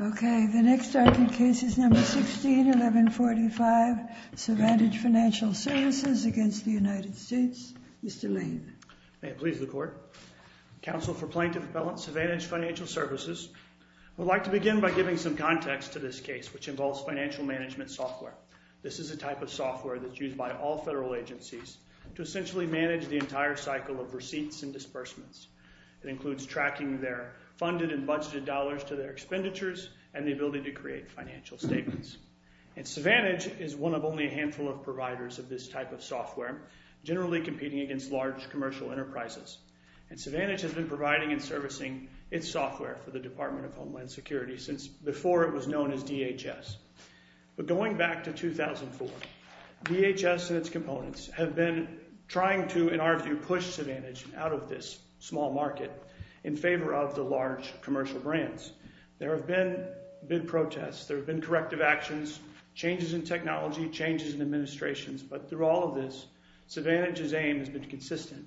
Okay, the next argument case is number 16, 1145, Survantage Financial Services against the United States. Mr. Lane. May it please the Court. Counsel for Plaintiff Appellant Survantage Financial Services, I would like to begin by giving some context to this case, which involves financial management software. This is a type of software that's used by all federal agencies to essentially manage the entire cycle of receipts and disbursements. It includes tracking their funded and budgeted dollars to their expenditures and the ability to create financial statements. And Survantage is one of only a handful of providers of this type of software, generally competing against large commercial enterprises. And Survantage has been providing and servicing its software for the Department of Homeland Security since before it was known as DHS. But going back to 2004, DHS and its components have been trying to, in our view, push Survantage out of this small market in favor of the large commercial brands. There have been big protests. There have been corrective actions, changes in technology, changes in administrations. But through all of this, Survantage's aim has been consistent.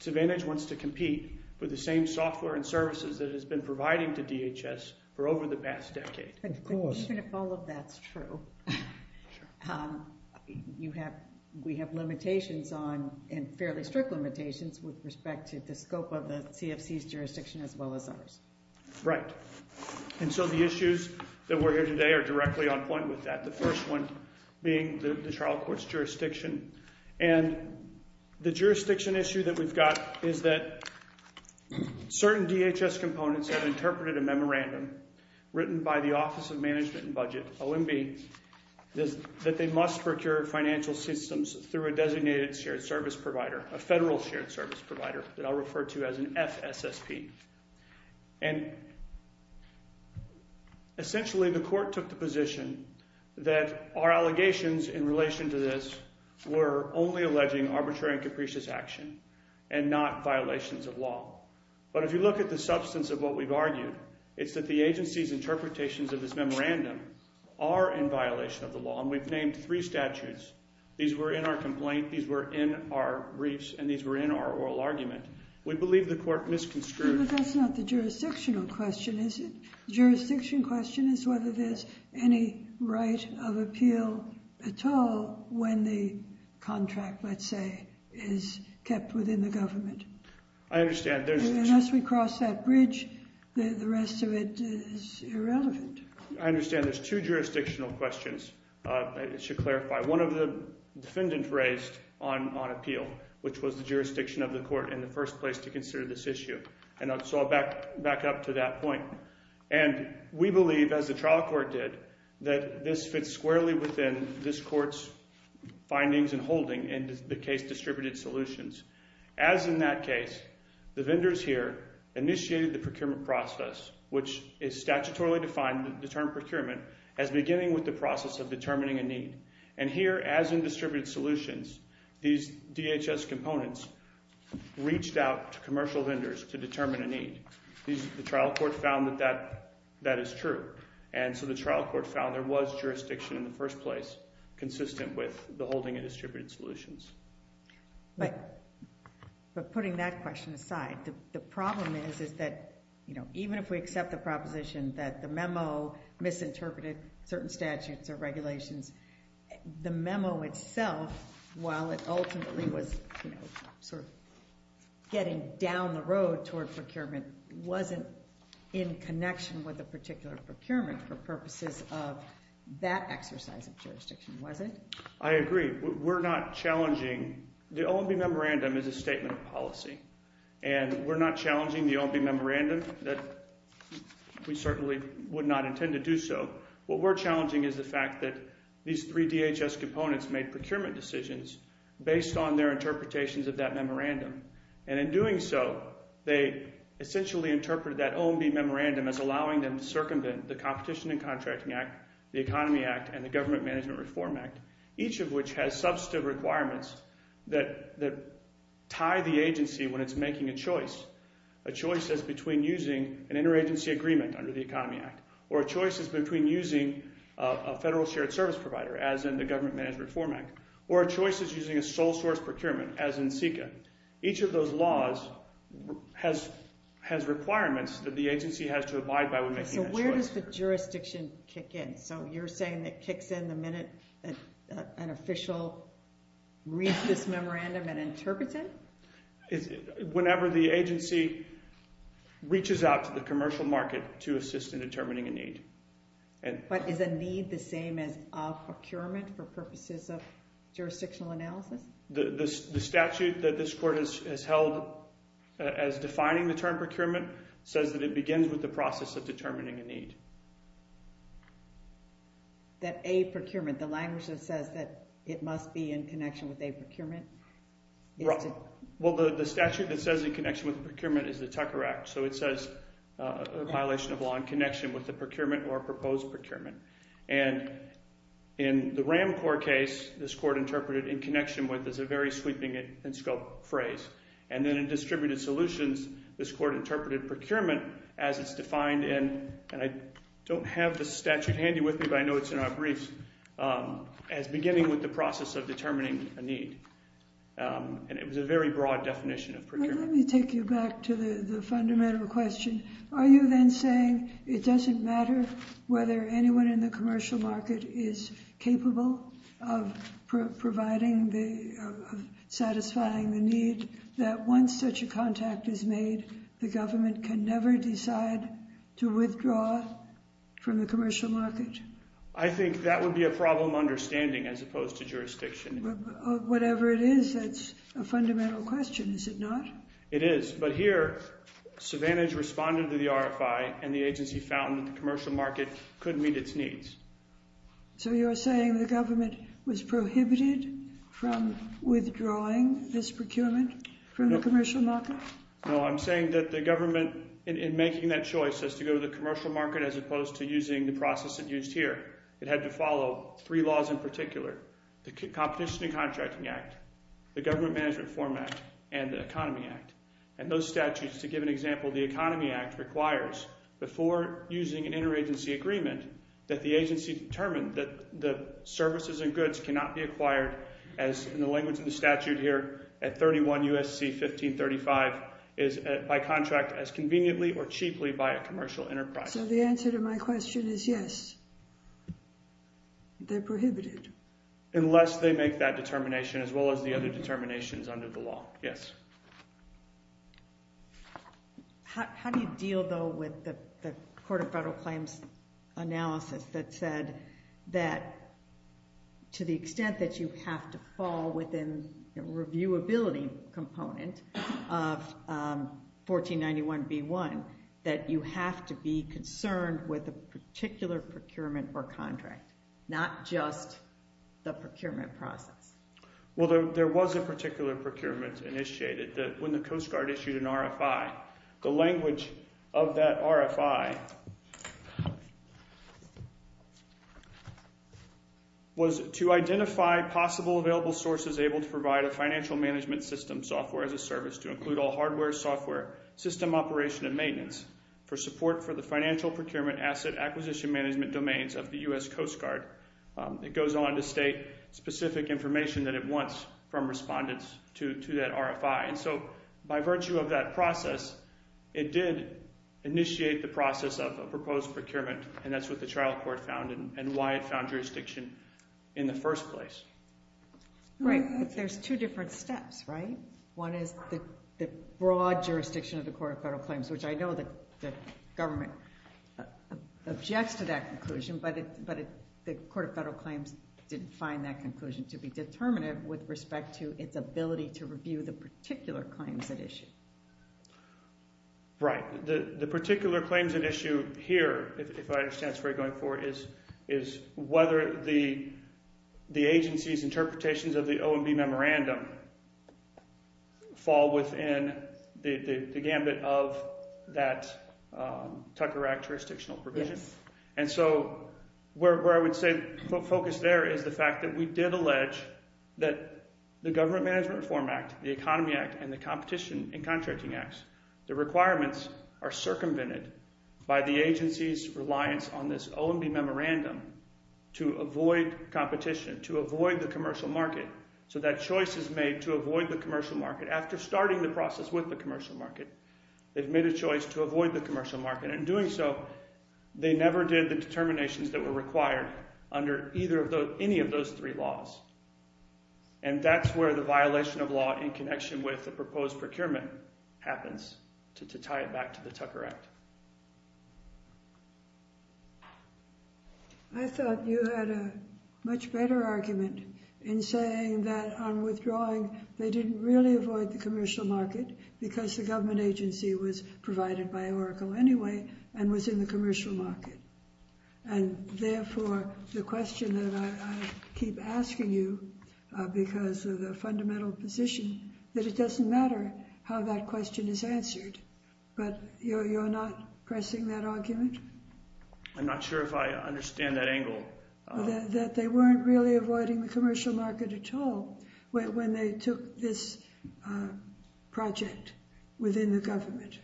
Survantage wants to compete with the same software and services that it has been providing to DHS for over the past decade. Of course. Even if all of that's true, we have limitations on, and fairly strict limitations, with respect to the scope of the CFC's jurisdiction as well as ours. Right. And so the issues that we're here today are directly on point with that. The first one being the trial court's jurisdiction. And the jurisdiction issue that we've got is that certain DHS components have interpreted a memorandum written by the Office of Management and Budget, OMB, that they must procure financial systems through a designated shared service provider, a federal shared service provider that I'll refer to as an FSSP. And essentially, the court took the position that our allegations in relation to this were only alleging arbitrary and capricious action and not violations of law. But if you look at the substance of what we've argued, it's that the agency's interpretations of this memorandum are in violation of the law, and we've named three statutes. These were in our complaint, these were in our briefs, and these were in our oral argument. We believe the court misconstrued- But that's not the jurisdictional question, is it? Jurisdiction question is whether there's any right of appeal at all when the contract, let's say, is kept within the government. I understand there's- Unless we cross that bridge, the rest of it is irrelevant. I understand there's two jurisdictional questions I should clarify. One of the defendants raised on appeal, which was the jurisdiction of the court in the first place to consider this issue, and so I'll back up to that point. And we believe, as the trial court did, that this fits squarely within this court's findings and holding in the case distributed solutions. As in that case, the vendors here initiated the procurement process, which is statutorily defined, the term procurement, as beginning with the process of determining a need. And here, as in distributed solutions, these DHS components reached out to commercial vendors to determine a need. The trial court found that that is true. And so the trial court found there was jurisdiction in the first place consistent with the holding of distributed solutions. But putting that question aside, the problem is that even if we accept the proposition that the memo misinterpreted certain statutes or regulations, the memo itself, while it ultimately was sort of getting down the road toward procurement, wasn't in connection with the particular procurement for purposes of that exercise of jurisdiction, was it? I agree. We're not challenging- The OMB Memorandum is a statement of policy, and we're not challenging the OMB Memorandum. We certainly would not intend to do so. What we're challenging is the fact that these three DHS components made procurement decisions based on their interpretations of that memorandum. And in doing so, they essentially interpreted that OMB Memorandum as allowing them to circumvent the Competition and Contracting Act, the Economy Act, and the Government Management Reform Act, each of which has substantive requirements that tie the agency when it's making a choice. A choice is between using an interagency agreement under the Economy Act, or a choice is between using a federal shared service provider, as in the Government Management Reform Act, or a choice is using a sole source procurement, as in SECA. Each of those laws has requirements that the agency has to abide by when making that choice. So where does the jurisdiction kick in? So you're saying that kicks in the minute an official reads this memorandum and interprets it? Whenever the agency reaches out to the commercial market to assist in determining a need. But is a need the same as a procurement for purposes of jurisdictional analysis? The statute that this Court has held as defining the term procurement says that it begins with the process of determining a need. That a procurement, the language that says that it must be in connection with a procurement? Well, the statute that says in connection with a procurement is the Tucker Act. So it says a violation of law in connection with a procurement or a proposed procurement. And in the RAMCOR case, this Court interpreted in connection with is a very sweeping and scoped phrase. And then in distributed solutions, this Court interpreted procurement as it's defined in, and I don't have the statute handy with me, but I know it's in our briefs, as beginning with the process of determining a need. And it was a very broad definition of procurement. Let me take you back to the fundamental question. Are you then saying it doesn't matter whether anyone in the commercial market is capable of providing the, of satisfying the need that once such a contact is made, the government can never decide to withdraw from the commercial market? I think that would be a problem understanding as opposed to jurisdiction. Whatever it is, that's a fundamental question, is it not? It is. But here, Savanage responded to the RFI and the agency found that the commercial market could meet its needs. So you're saying the government was prohibited from withdrawing this procurement from the commercial market? No, I'm saying that the government, in making that choice as to go to the commercial market as opposed to using the process that's used here, it had to follow three laws in particular. The Competition and Contracting Act, the Government Management Form Act, and the Economy Act. And those statutes, to give an example, the Economy Act requires, before using an interagency agreement, that the agency determine that the services and goods cannot be acquired as, in the language of the statute here, at 31 U.S.C. 1535, by contract as conveniently or cheaply by a commercial enterprise. So the answer to my question is yes, they're prohibited. Unless they make that determination, as well as the other determinations under the law. Yes. How do you deal, though, with the Court of Federal Claims analysis that said that to the extent that you have to fall within the reviewability component of 1491b1, that you have to be concerned with a particular procurement or contract, not just the procurement process? Well, there was a particular procurement initiated when the Coast Guard issued an RFI. The language of that RFI was to identify possible available sources able to provide a financial management system software as a service to include all hardware, software, system operation and maintenance for support for the financial procurement asset acquisition management domains of the U.S. Coast Guard. It goes on to state specific information that it wants from respondents to that RFI. And so, by virtue of that process, it did initiate the process of a proposed procurement and that's what the trial court found and why it found jurisdiction in the first place. Right, but there's two different steps, right? One is the broad jurisdiction of the Court of Federal Claims, which I know the government objects to that conclusion, but the Court of Federal Claims didn't find that conclusion to be determinative with respect to its ability to review the particular claims at issue. Right. The particular claims at issue here, if I understand this right, going forward, is whether the agency's interpretations of the OMB memorandum fall within the gambit of that Tucker Act jurisdictional provision. Yes. And so, where I would say the focus there is the fact that we did allege that the Government Management Reform Act, the Economy Act and the Competition and Contracting Acts, the avoid competition, to avoid the commercial market. So, that choice is made to avoid the commercial market after starting the process with the commercial market. They've made a choice to avoid the commercial market and in doing so, they never did the determinations that were required under any of those three laws. And that's where the violation of law in connection with the proposed procurement happens to tie it back to the Tucker Act. I thought you had a much better argument in saying that on withdrawing, they didn't really avoid the commercial market because the government agency was provided by Oracle anyway and was in the commercial market. And therefore, the question that I keep asking you, because of the fundamental position, that it doesn't matter how that question is answered. But you're not pressing that argument? I'm not sure if I understand that angle. That they weren't really avoiding the commercial market at all when they took this project within the government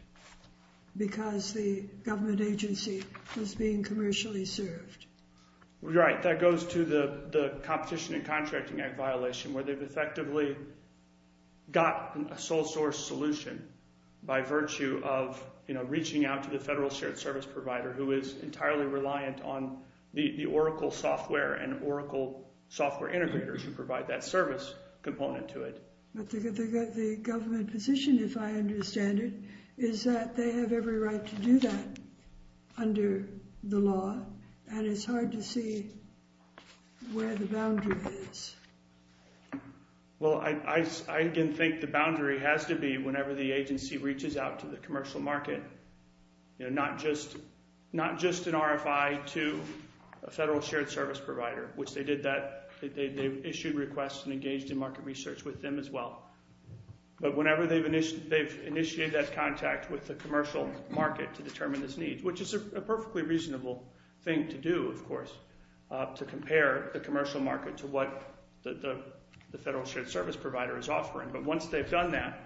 because the government agency was being commercially served. Right. That goes to the Competition and Contracting Act violation where they've effectively got a sole source solution by virtue of reaching out to the Federal Shared Service Provider who is entirely reliant on the Oracle software and Oracle software integrators who provide that service component to it. But the government position, if I understand it, is that they have every right to do that under the law and it's hard to see where the boundary is. Well, I again think the boundary has to be whenever the agency reaches out to the commercial market, not just an RFI to a Federal Shared Service Provider, which they did that. They issued requests and engaged in market research with them as well. But whenever they've initiated that contact with the commercial market to determine this need, which is a perfectly reasonable thing to do, of course, to compare the commercial market to what the Federal Shared Service Provider is offering. But once they've done that,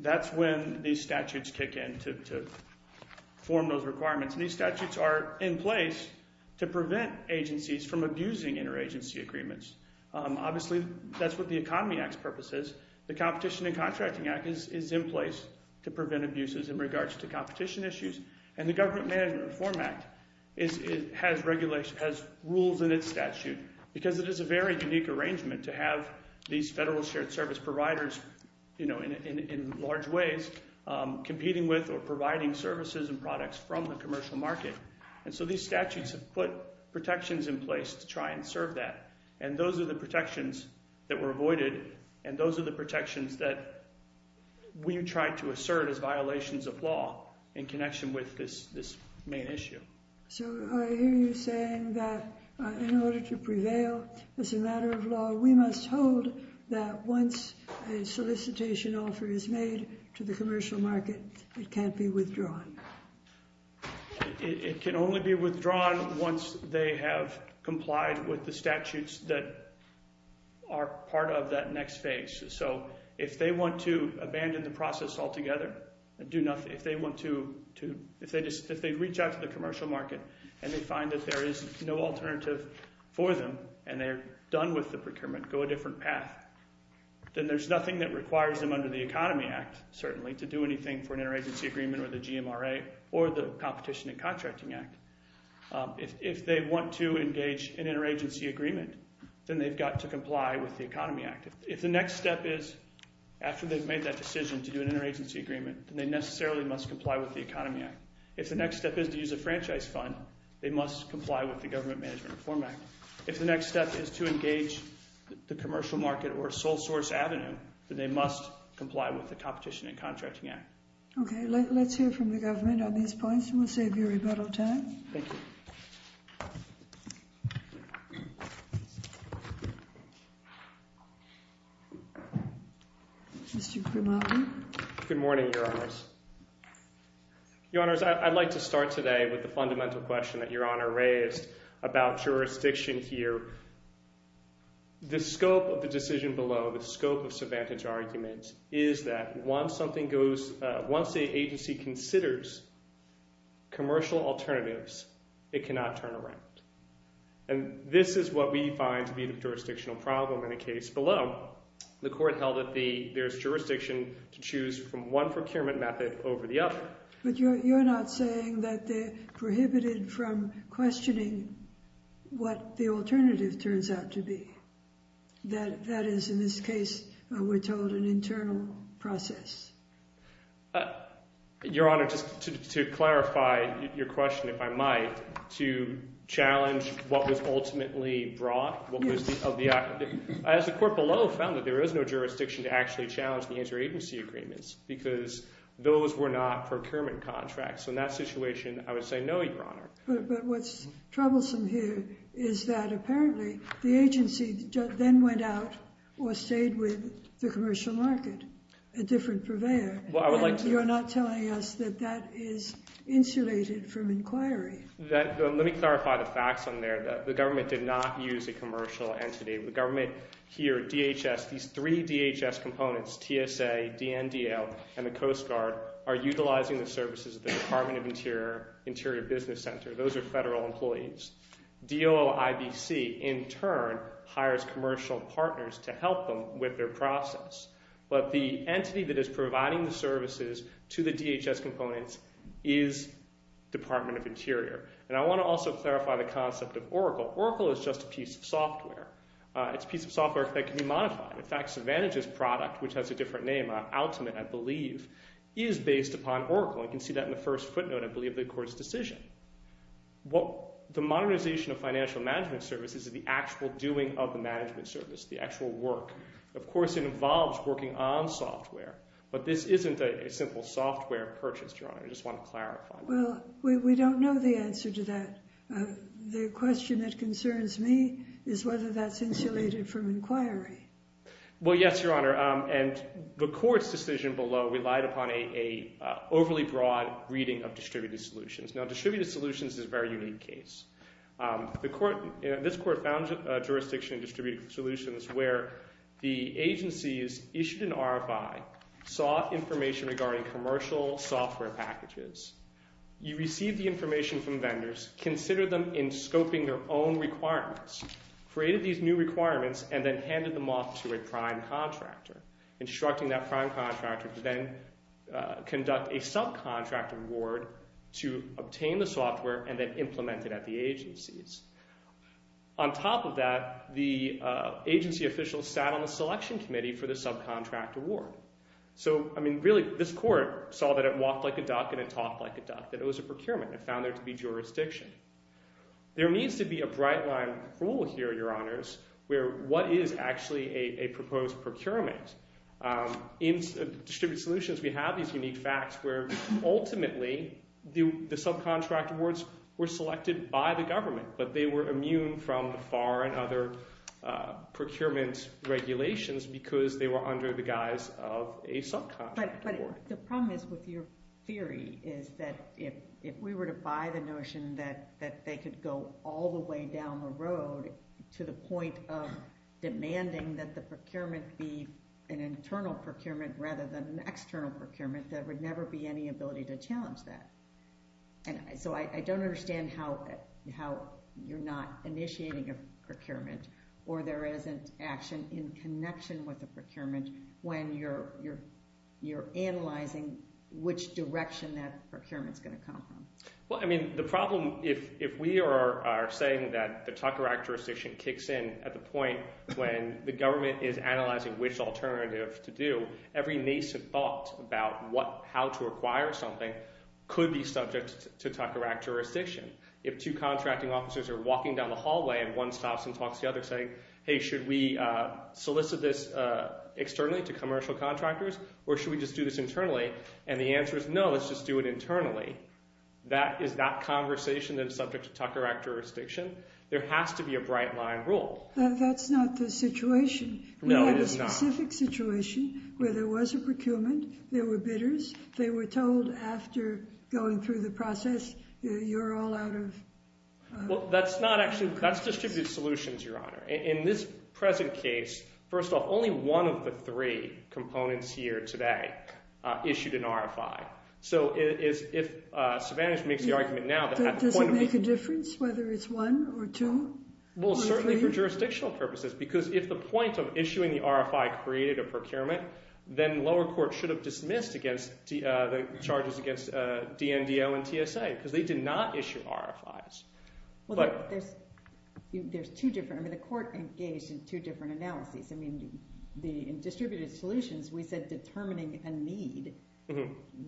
that's when these statutes kick in to form those requirements. And these statutes are in place to prevent agencies from abusing interagency agreements. Obviously, that's what the Economy Act's purpose is. The Competition and Contracting Act is in place to prevent abuses in regards to competition issues. And the Government Management Reform Act has rules in its statute because it is a very unique arrangement to have these Federal Shared Service Providers in large ways competing with or providing services and products from the commercial market. And so these statutes have put protections in place to try and serve that. And those are the protections that were avoided and those are the protections that we try to assert as violations of law in connection with this main issue. So I hear you saying that in order to prevail as a matter of law, we must hold that once a solicitation offer is made to the commercial market, it can't be withdrawn. It can only be withdrawn once they have complied with the statutes that are part of that next phase. So if they want to abandon the process altogether, if they reach out to the commercial market and they find that there is no alternative for them and they're done with the procurement, go a different path, then there's nothing that requires them under the Economy Act certainly to do anything for an interagency agreement or the GMRA or the Competition and Contracting Act. If they want to engage in interagency agreement, then they've got to comply with the Economy Act. If the next step is after they've made that decision to do an interagency agreement, then they necessarily must comply with the Economy Act. If the next step is to use a franchise fund, they must comply with the Government Management Reform Act. If the next step is to engage the commercial market or a sole source avenue, then they must comply with the Competition and Contracting Act. Okay, let's hear from the government on these points and we'll save you rebuttal time. Thank you. Mr. Grimaldi. Good morning, Your Honors. Your Honors, I'd like to start today with the fundamental question that Your Honor raised about jurisdiction here. The scope of the decision below, the scope of subvantage argument, is that once the agency considers commercial alternatives, it cannot turn around. And this is what we find to be the jurisdictional problem in a case below. The court held that there's jurisdiction to choose from one procurement method over the other. But you're not saying that they're prohibited from questioning what the alternative turns out to be. That is, in this case, we're told an internal process. Your Honor, just to clarify your question, if I might, to challenge what was ultimately brought. Yes. As the court below found that there is no jurisdiction to actually challenge the interagency agreements because those were not procurement contracts. So in that situation, I would say no, Your Honor. But what's troublesome here is that apparently the agency then went out or stayed with the commercial market, a different purveyor. And you're not telling us that that is insulated from inquiry. Let me clarify the facts on there. The government did not use a commercial entity. The government here, DHS, these three DHS components, TSA, DNDL, and the Coast Guard, are utilizing the services of the Department of Interior Business Center. Those are federal employees. DOIBC, in turn, hires commercial partners to help them with their process. But the entity that is providing the services to the DHS components is Department of Interior. And I want to also clarify the concept of Oracle. Oracle is just a piece of software. It's a piece of software that can be modified. In fact, Savantage's product, which has a different name, Ultimate, I believe, is based upon Oracle. You can see that in the first footnote, I believe, of the court's decision. The modernization of financial management services is the actual doing of the management service, the actual work. Of course, it involves working on software. But this isn't a simple software purchase, Your Honor. I just want to clarify. Well, we don't know the answer to that. The question that concerns me is whether that's insulated from inquiry. Well, yes, Your Honor. And the court's decision below relied upon an overly broad reading of distributed solutions. Now, distributed solutions is a very unique case. This court found jurisdiction in distributed solutions where the agencies issued an RFI, sought information regarding commercial software packages. You received the information from vendors, considered them in scoping their own requirements, created these new requirements, and then handed them off to a prime contractor, instructing that prime contractor to then conduct a subcontract award to obtain the software and then implement it at the agencies. On top of that, the agency officials sat on the selection committee for the subcontract award. So, I mean, really, this court saw that it walked like a duck and it talked like a duck, that it was a procurement. It found there to be jurisdiction. There needs to be a bright-line rule here, Your Honors, where what is actually a proposed procurement? In distributed solutions, we have these unique facts where, ultimately, the subcontract awards were selected by the government, but they were immune from the FAR and other procurement regulations because they were under the guise of a subcontract award. But the problem is with your theory is that if we were to buy the notion that they could go all the way down the road to the point of demanding that the procurement be an internal procurement rather than an external procurement, there would never be any ability to challenge that. So I don't understand how you're not initiating a procurement or there isn't action in connection with a procurement when you're analyzing which direction that procurement is going to come from. The problem, if we are saying that the Tucker Act jurisdiction kicks in at the point when the government is analyzing which alternative to do, every nascent thought about how to acquire something could be subject to Tucker Act jurisdiction. If two contracting officers are walking down the hallway and one stops and talks to the other saying, hey, should we solicit this externally to commercial contractors or should we just do this internally? And the answer is no, let's just do it internally. That is not conversation that is subject to Tucker Act jurisdiction. There has to be a bright line rule. That's not the situation. No, it is not. We have a specific situation where there was a procurement, there were bidders, they were told after going through the process, you're all out of... Well, that's not actually... That's distributed solutions, Your Honor. In this present case, first off, only one of the three components here today issued an RFI. So if Savanish makes the argument now... Does it make a difference whether it's one or two? Well, certainly for jurisdictional purposes because if the point of issuing the RFI created a procurement, then lower court should have dismissed the charges against DNDL and TSA because they did not issue RFIs. Well, there's two different... I mean, the court engaged in two different analyses. I mean, in distributed solutions, we said determining a need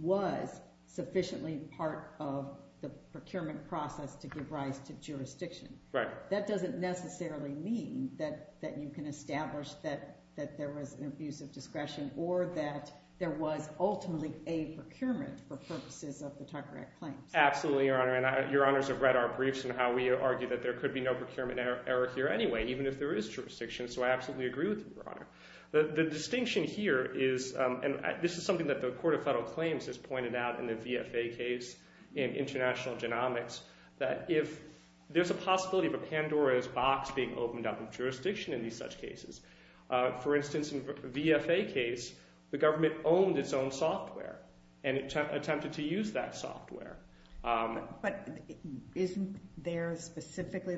was sufficiently part of the procurement process to give rise to jurisdiction. That doesn't necessarily mean that you can establish that there was an abuse of discretion or that there was ultimately a procurement for purposes of the Tucker Act claims. Absolutely, Your Honor, and Your Honors have read our briefs and how we argue that there could be no procurement error here anyway, even if there is jurisdiction. So I absolutely agree with you, Your Honor. The distinction here is... And this is something that the Court of Federal Claims has pointed out in the VFA case in international genomics that if there's a possibility of a Pandora's box being opened up in jurisdiction in these such cases. For instance, in the VFA case, the government owned its own software and attempted to use that software. But isn't there specifically...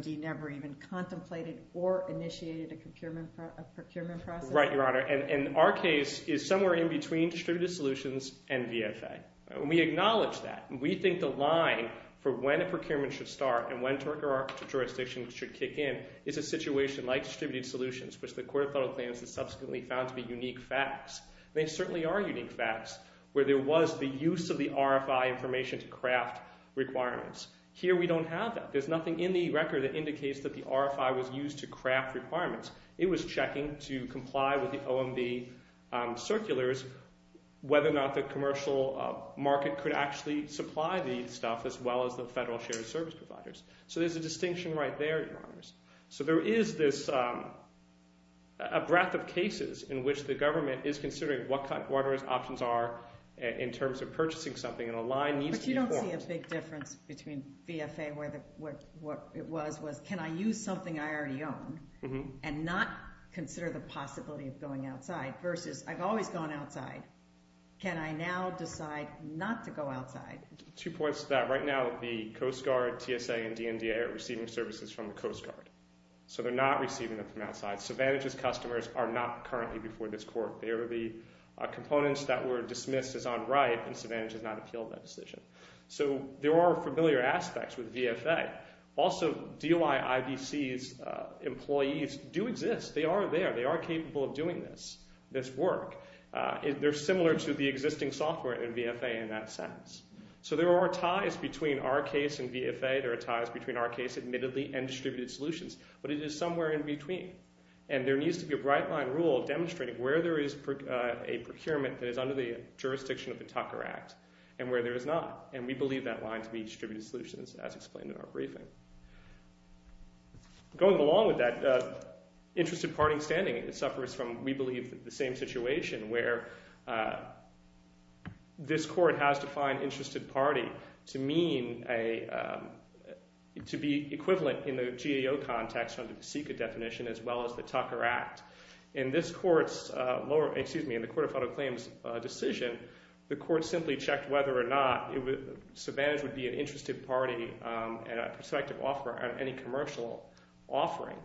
Or even contemplated or initiated a procurement process? Right, Your Honor, and our case is somewhere in between distributed solutions and VFA. We acknowledge that. We think the line for when a procurement should start and when a jurisdiction should kick in is a situation like distributed solutions, which the Court of Federal Claims has subsequently found to be unique facts. They certainly are unique facts, where there was the use of the RFI information to craft requirements. Here we don't have that. There's nothing in the record that indicates that the RFI was used to craft requirements. It was checking to comply with the OMB circulars whether or not the commercial market could actually supply the stuff as well as the federal shared service providers. So there's a distinction right there, Your Honors. So there is this... a breadth of cases in which the government is considering what kind of options are in terms of purchasing something, and a line needs to be formed. Probably a big difference between VFA and what it was was, can I use something I already own and not consider the possibility of going outside? Versus, I've always gone outside. Can I now decide not to go outside? Two points to that. Right now, the Coast Guard, TSA, and DNDA are receiving services from the Coast Guard. So they're not receiving them from outside. Savantage's customers are not currently before this Court. They are the components that were dismissed as on right, and Savantage has not appealed that decision. So there are familiar aspects with VFA. Also, DOI, IBC's employees do exist. They are there. They are capable of doing this work. They're similar to the existing software in VFA in that sense. So there are ties between our case and VFA. There are ties between our case, admittedly, and distributed solutions, but it is somewhere in between. And there needs to be a bright-line rule demonstrating where there is a procurement that is under the jurisdiction of the Tucker Act and where there is not. And we believe that line to be distributed solutions, as explained in our briefing. Going along with that, interested party standing suffers from, we believe, the same situation where this Court has to find interested party to mean a... to be equivalent in the GAO context under the SECA definition as well as the Tucker Act. In this Court's lower... in this Court's decision, the Court simply checked whether or not it would... disadvantage would be an interested party and a prospective offer at any commercial offering,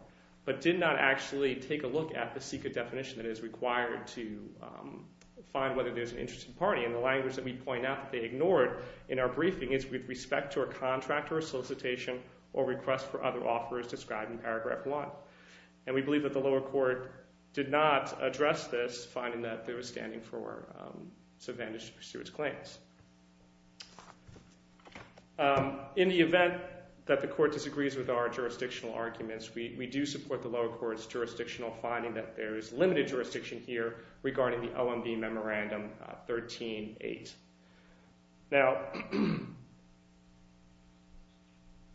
but did not actually take a look at the SECA definition that is required to find whether there's an interested party. And the language that we point out that they ignored in our briefing is with respect to a contract or a solicitation or request for other offers described in paragraph one. And we believe that the lower court did not address this finding that they were standing for disadvantage to pursue its claims. In the event that the Court disagrees with our jurisdictional arguments, we do support the lower court's jurisdictional finding that there is limited jurisdiction here regarding the OMB Memorandum 13-8. Now...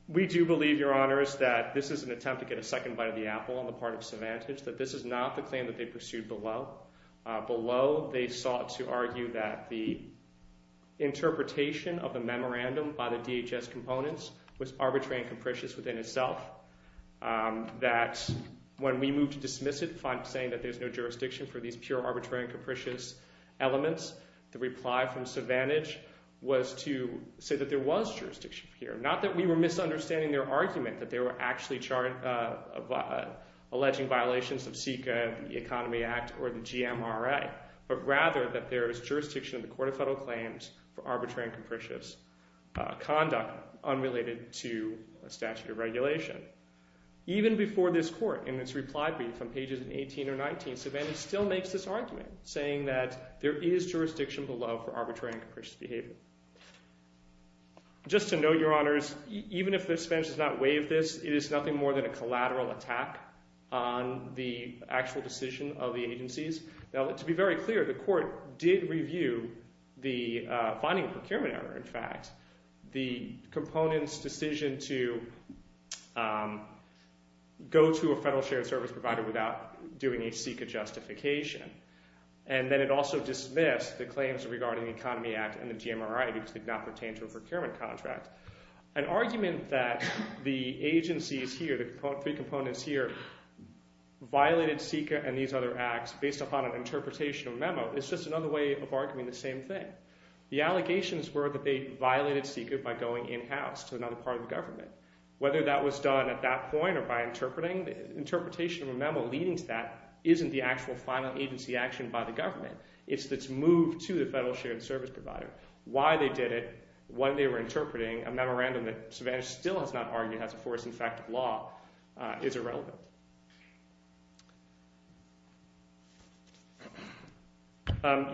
we do believe, Your Honors, to get a second bite of the apple on the part of disadvantage, that this is not the claim that they pursued below. Below, they sought to argue that the interpretation of the memorandum by the DHS components was arbitrary and capricious within itself. That when we moved to dismiss it saying that there's no jurisdiction for these pure arbitrary and capricious elements, the reply from disadvantage was to say that there was jurisdiction here. Not that we were misunderstanding their argument that they were actually charged of alleging violations of SECA the Economy Act or the GMRA but rather that there is jurisdiction in the Court of Federal Claims for arbitrary and capricious conduct unrelated to a statute of regulation. Even before this court in its reply brief on pages 18 or 19 Savannah still makes this argument saying that there is jurisdiction below for arbitrary and capricious behavior. Just to note, Your Honors, even if the defense does not waive this it is nothing more than a collateral attack on the actual decision of the agencies. Now to be very clear the court did review the finding of procurement error in fact the component's decision to go to a federal shared service provider without doing a SECA justification and then it also dismissed the claims regarding the Economy Act and the GMRA because they did not pertain to a procurement contract. An argument that the agencies here the three components here violated SECA and these other acts based upon an interpretation of a memo is just another way of arguing the same thing. The allegations were that they violated SECA by going in-house to another part of the government. Whether that was done at that point or by interpreting the interpretation of a memo leading to that isn't the actual final agency action by the government. It's this move to the federal shared service provider. Why they did it when they were interpreting a memorandum that Savannah still has not argued as a force in fact of law is irrelevant.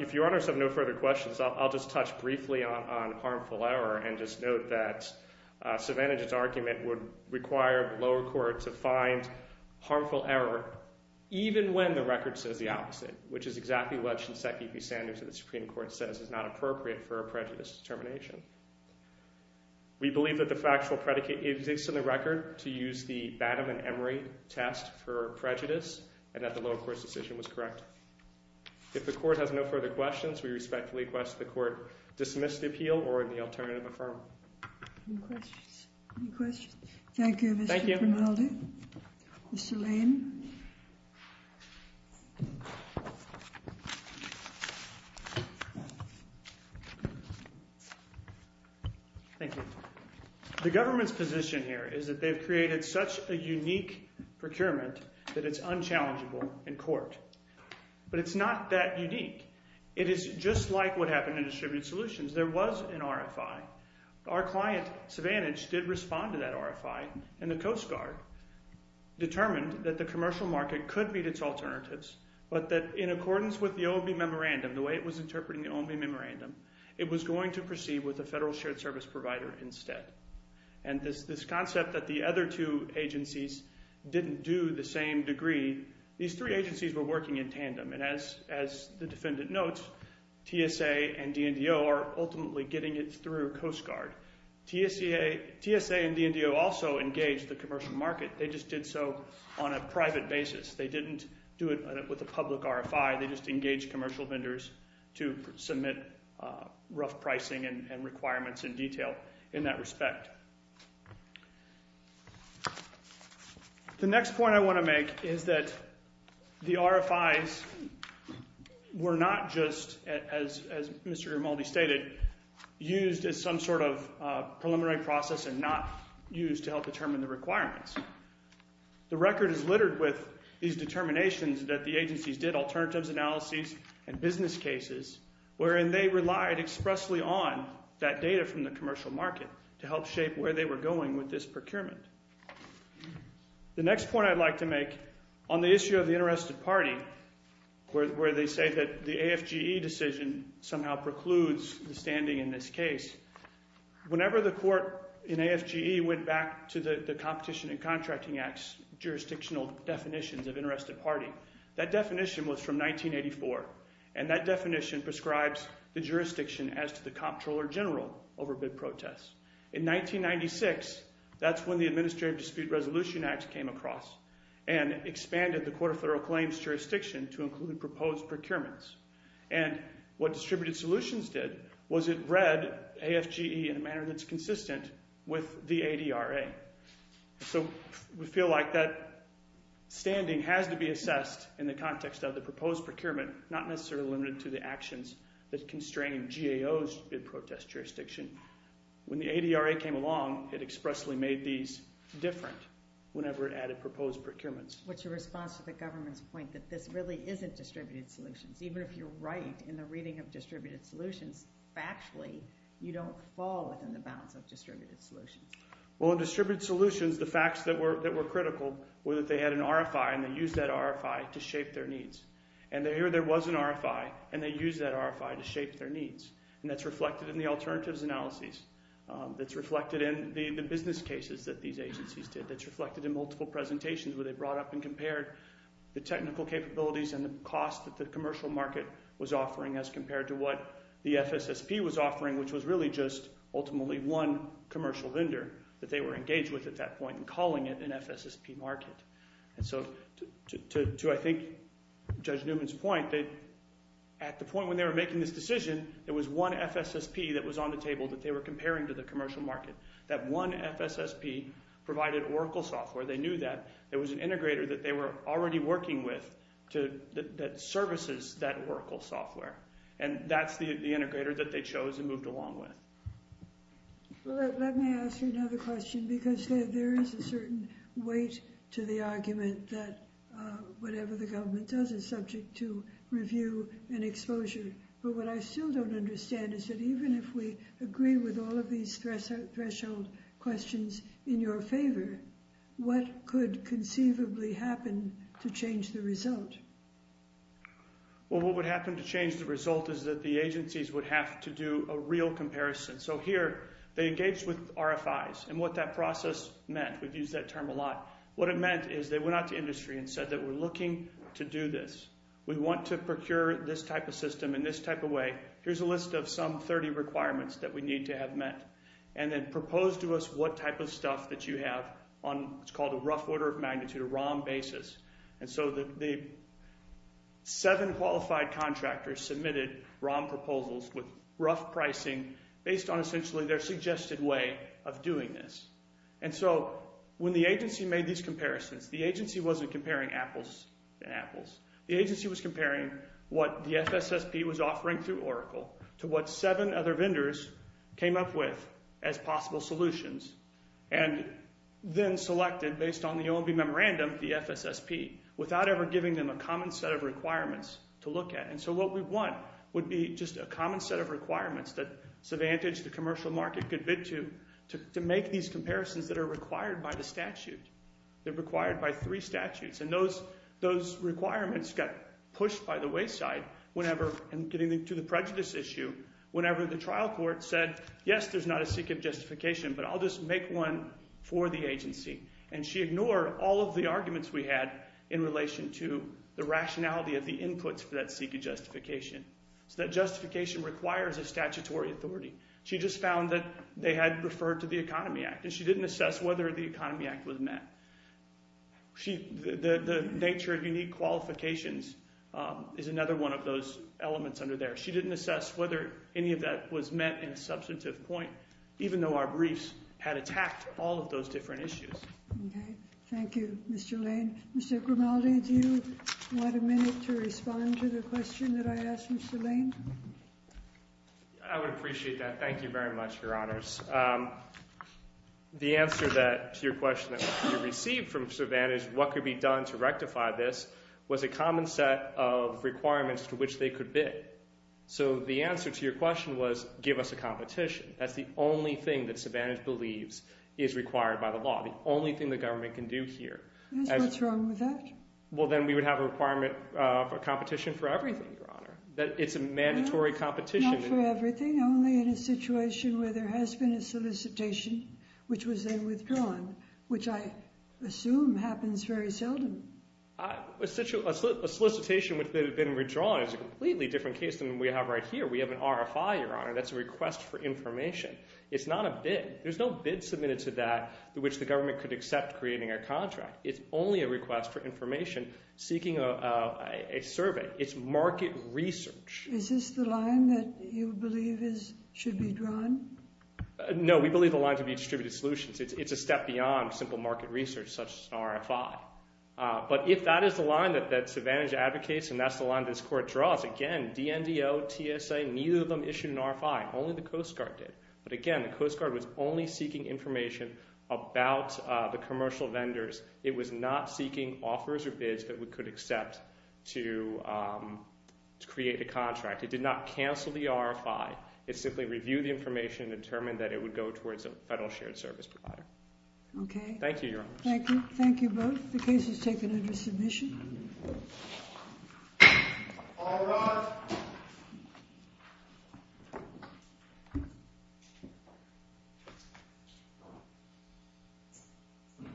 If your honors have no further questions I'll just touch briefly on harmful error and just note that Savannah's argument would require the lower court to find harmful error even when the record says the opposite which is exactly what Shinseki B. Sanders of the Supreme Court says is not true. We believe that the factual predicate exists in the record to use the Batten and Emery test for prejudice and that the lower court's decision was correct. If the court has no further questions we respectfully request the court dismiss the appeal or the alternative affirm. Any questions? Thank you Mr. Peraldo. Mr. Lane. Thank you. The government's position here is that they've created such a unique procurement that it's unchallengeable in court but it's not that unique. It is just like what happened in Distributed Solutions. There was an RFI. Our client Savannah did respond to that RFI and the Coast Guard determined that the commercial market could meet its alternatives but that in accordance with the OMB memorandum the way it was interpreting the OMB memorandum it was going to proceed with a Federal Shared Service provider instead. And this concept that the other two agencies didn't do the same degree these three agencies were working in tandem and as the defendant notes TSA and DNDO are ultimately getting it through Coast Guard. TSA and DNDO also engaged the commercial market they just did so on a private basis. They didn't do it with a public RFI they just engaged commercial vendors to submit rough pricing and requirements in detail in that respect. The next point I want to make is that the RFIs were not just as Mr. Grimaldi stated used as some sort of preliminary process and not used to help determine the requirements. The record is littered with these determinations that the agencies did alternatives analyses and business cases wherein they relied expressly on that data from the RFIs. On the issue of the interested party where they say that the AFGE decision somehow precludes the standing in this case whenever the court in AFGE went back to the competition and contracting acts to make jurisdictional definitions of interested party. That definition was from 1984 and that definition prescribes the jurisdiction as to the comptroller general over bid protests. In 1996 that's when the Administrative Dispute Resolution Act came across and expanded the Court of Federal Claims jurisdiction to include proposed procurements and what Distributed Solutions did was it read AFGE in a manner that's consistent with the ADRA. So we feel like that standing has to be assessed in the context of the proposed procurement not necessarily limited to the actions that constrain GAO's bid protest jurisdiction. When the ADRA came along it expressly made these different whenever it added proposed procurements. What's your response to the government's point that this really isn't Distributed Solutions? Even if you're right in the reading of Distributed Solutions, factually you don't fall within the bounds of Distributed Solutions. Well in Distributed Solutions the facts that were critical were that they had an RFI and they used that RFI to shape their needs. And here there was an RFI and they used that RFI to shape their needs. And that's reflected in the alternatives analyses. That's reflected in the business cases that these agencies did. That's really just ultimately one commercial vendor that they were engaged with at that point and calling it an FSSP market. And so to I think Judge Newman's point that at the point when they were making this decision there was one FSSP vendor that they chose and moved along with. Let me ask you another question because there is a certain weight to the argument that whatever the government does is subject to review and exposure but what I still don't understand is that even if we agree with all of these threshold questions in your favor what could conceivably happen to change the result? Well what would happen to change the result is that the agencies would have to do a real comparison. So here they engaged with RFIs and what that process meant. We've used that term a lot. What it meant is they went out to industry and said that we're looking to do this. We want to procure this type of system in this type of way. Here's a list of some 30 requirements that we need to have met. And then proposed to us what type of stuff that you have on what's called a rough order of magnitude ROM basis. And so the seven qualified contractors submitted ROM proposals with rough pricing based on essentially their suggested way of doing this. And so when the agency made these comparisons, the agency wasn't comparing apples and apples. The agency was comparing what the FSSP was offering through Oracle to what seven other vendors came up with as possible solutions and then selected based on the OMB memorandum of the FSSP without ever giving them a common set of requirements to look at. And so what we want would be just a common set of requirements that Savantage the commercial market could bid to to make these comparisons that are required by the statute. They're required by three statutes and those requirements got pushed by the wayside whenever and getting to the prejudice issue whenever the trial court said yes there's not a SECA justification but I'll just make one for the agency and she ignored all of the questions asked before the economy act was met. The nature of unique qualifications is another one of those elements under there. She didn't assess whether any of that was met in a substantive point of view. answer to your question is what could be done to rectify this was a common set of requirements to which they could bid. So the answer to your question that there is a requirement for competition for everything. It's a mandatory competition. Not for everything. Only in a situation where there has been a solicitation which was then seeking survey. It's market research. Is this the line that you believe should be drawn? No, we believe the line should be distributed solutions. It's a step beyond simple market research. But if that's the line this court draws, neither of them issued an RFI. It was not seeking offers or bids that we could accept to create a contract. In fact, it did not cancel the RFI. It simply reviewed the information and determined that it would go towards a federal shared service provider. Thank you. Thank you both. The case is taken under submission. All rise.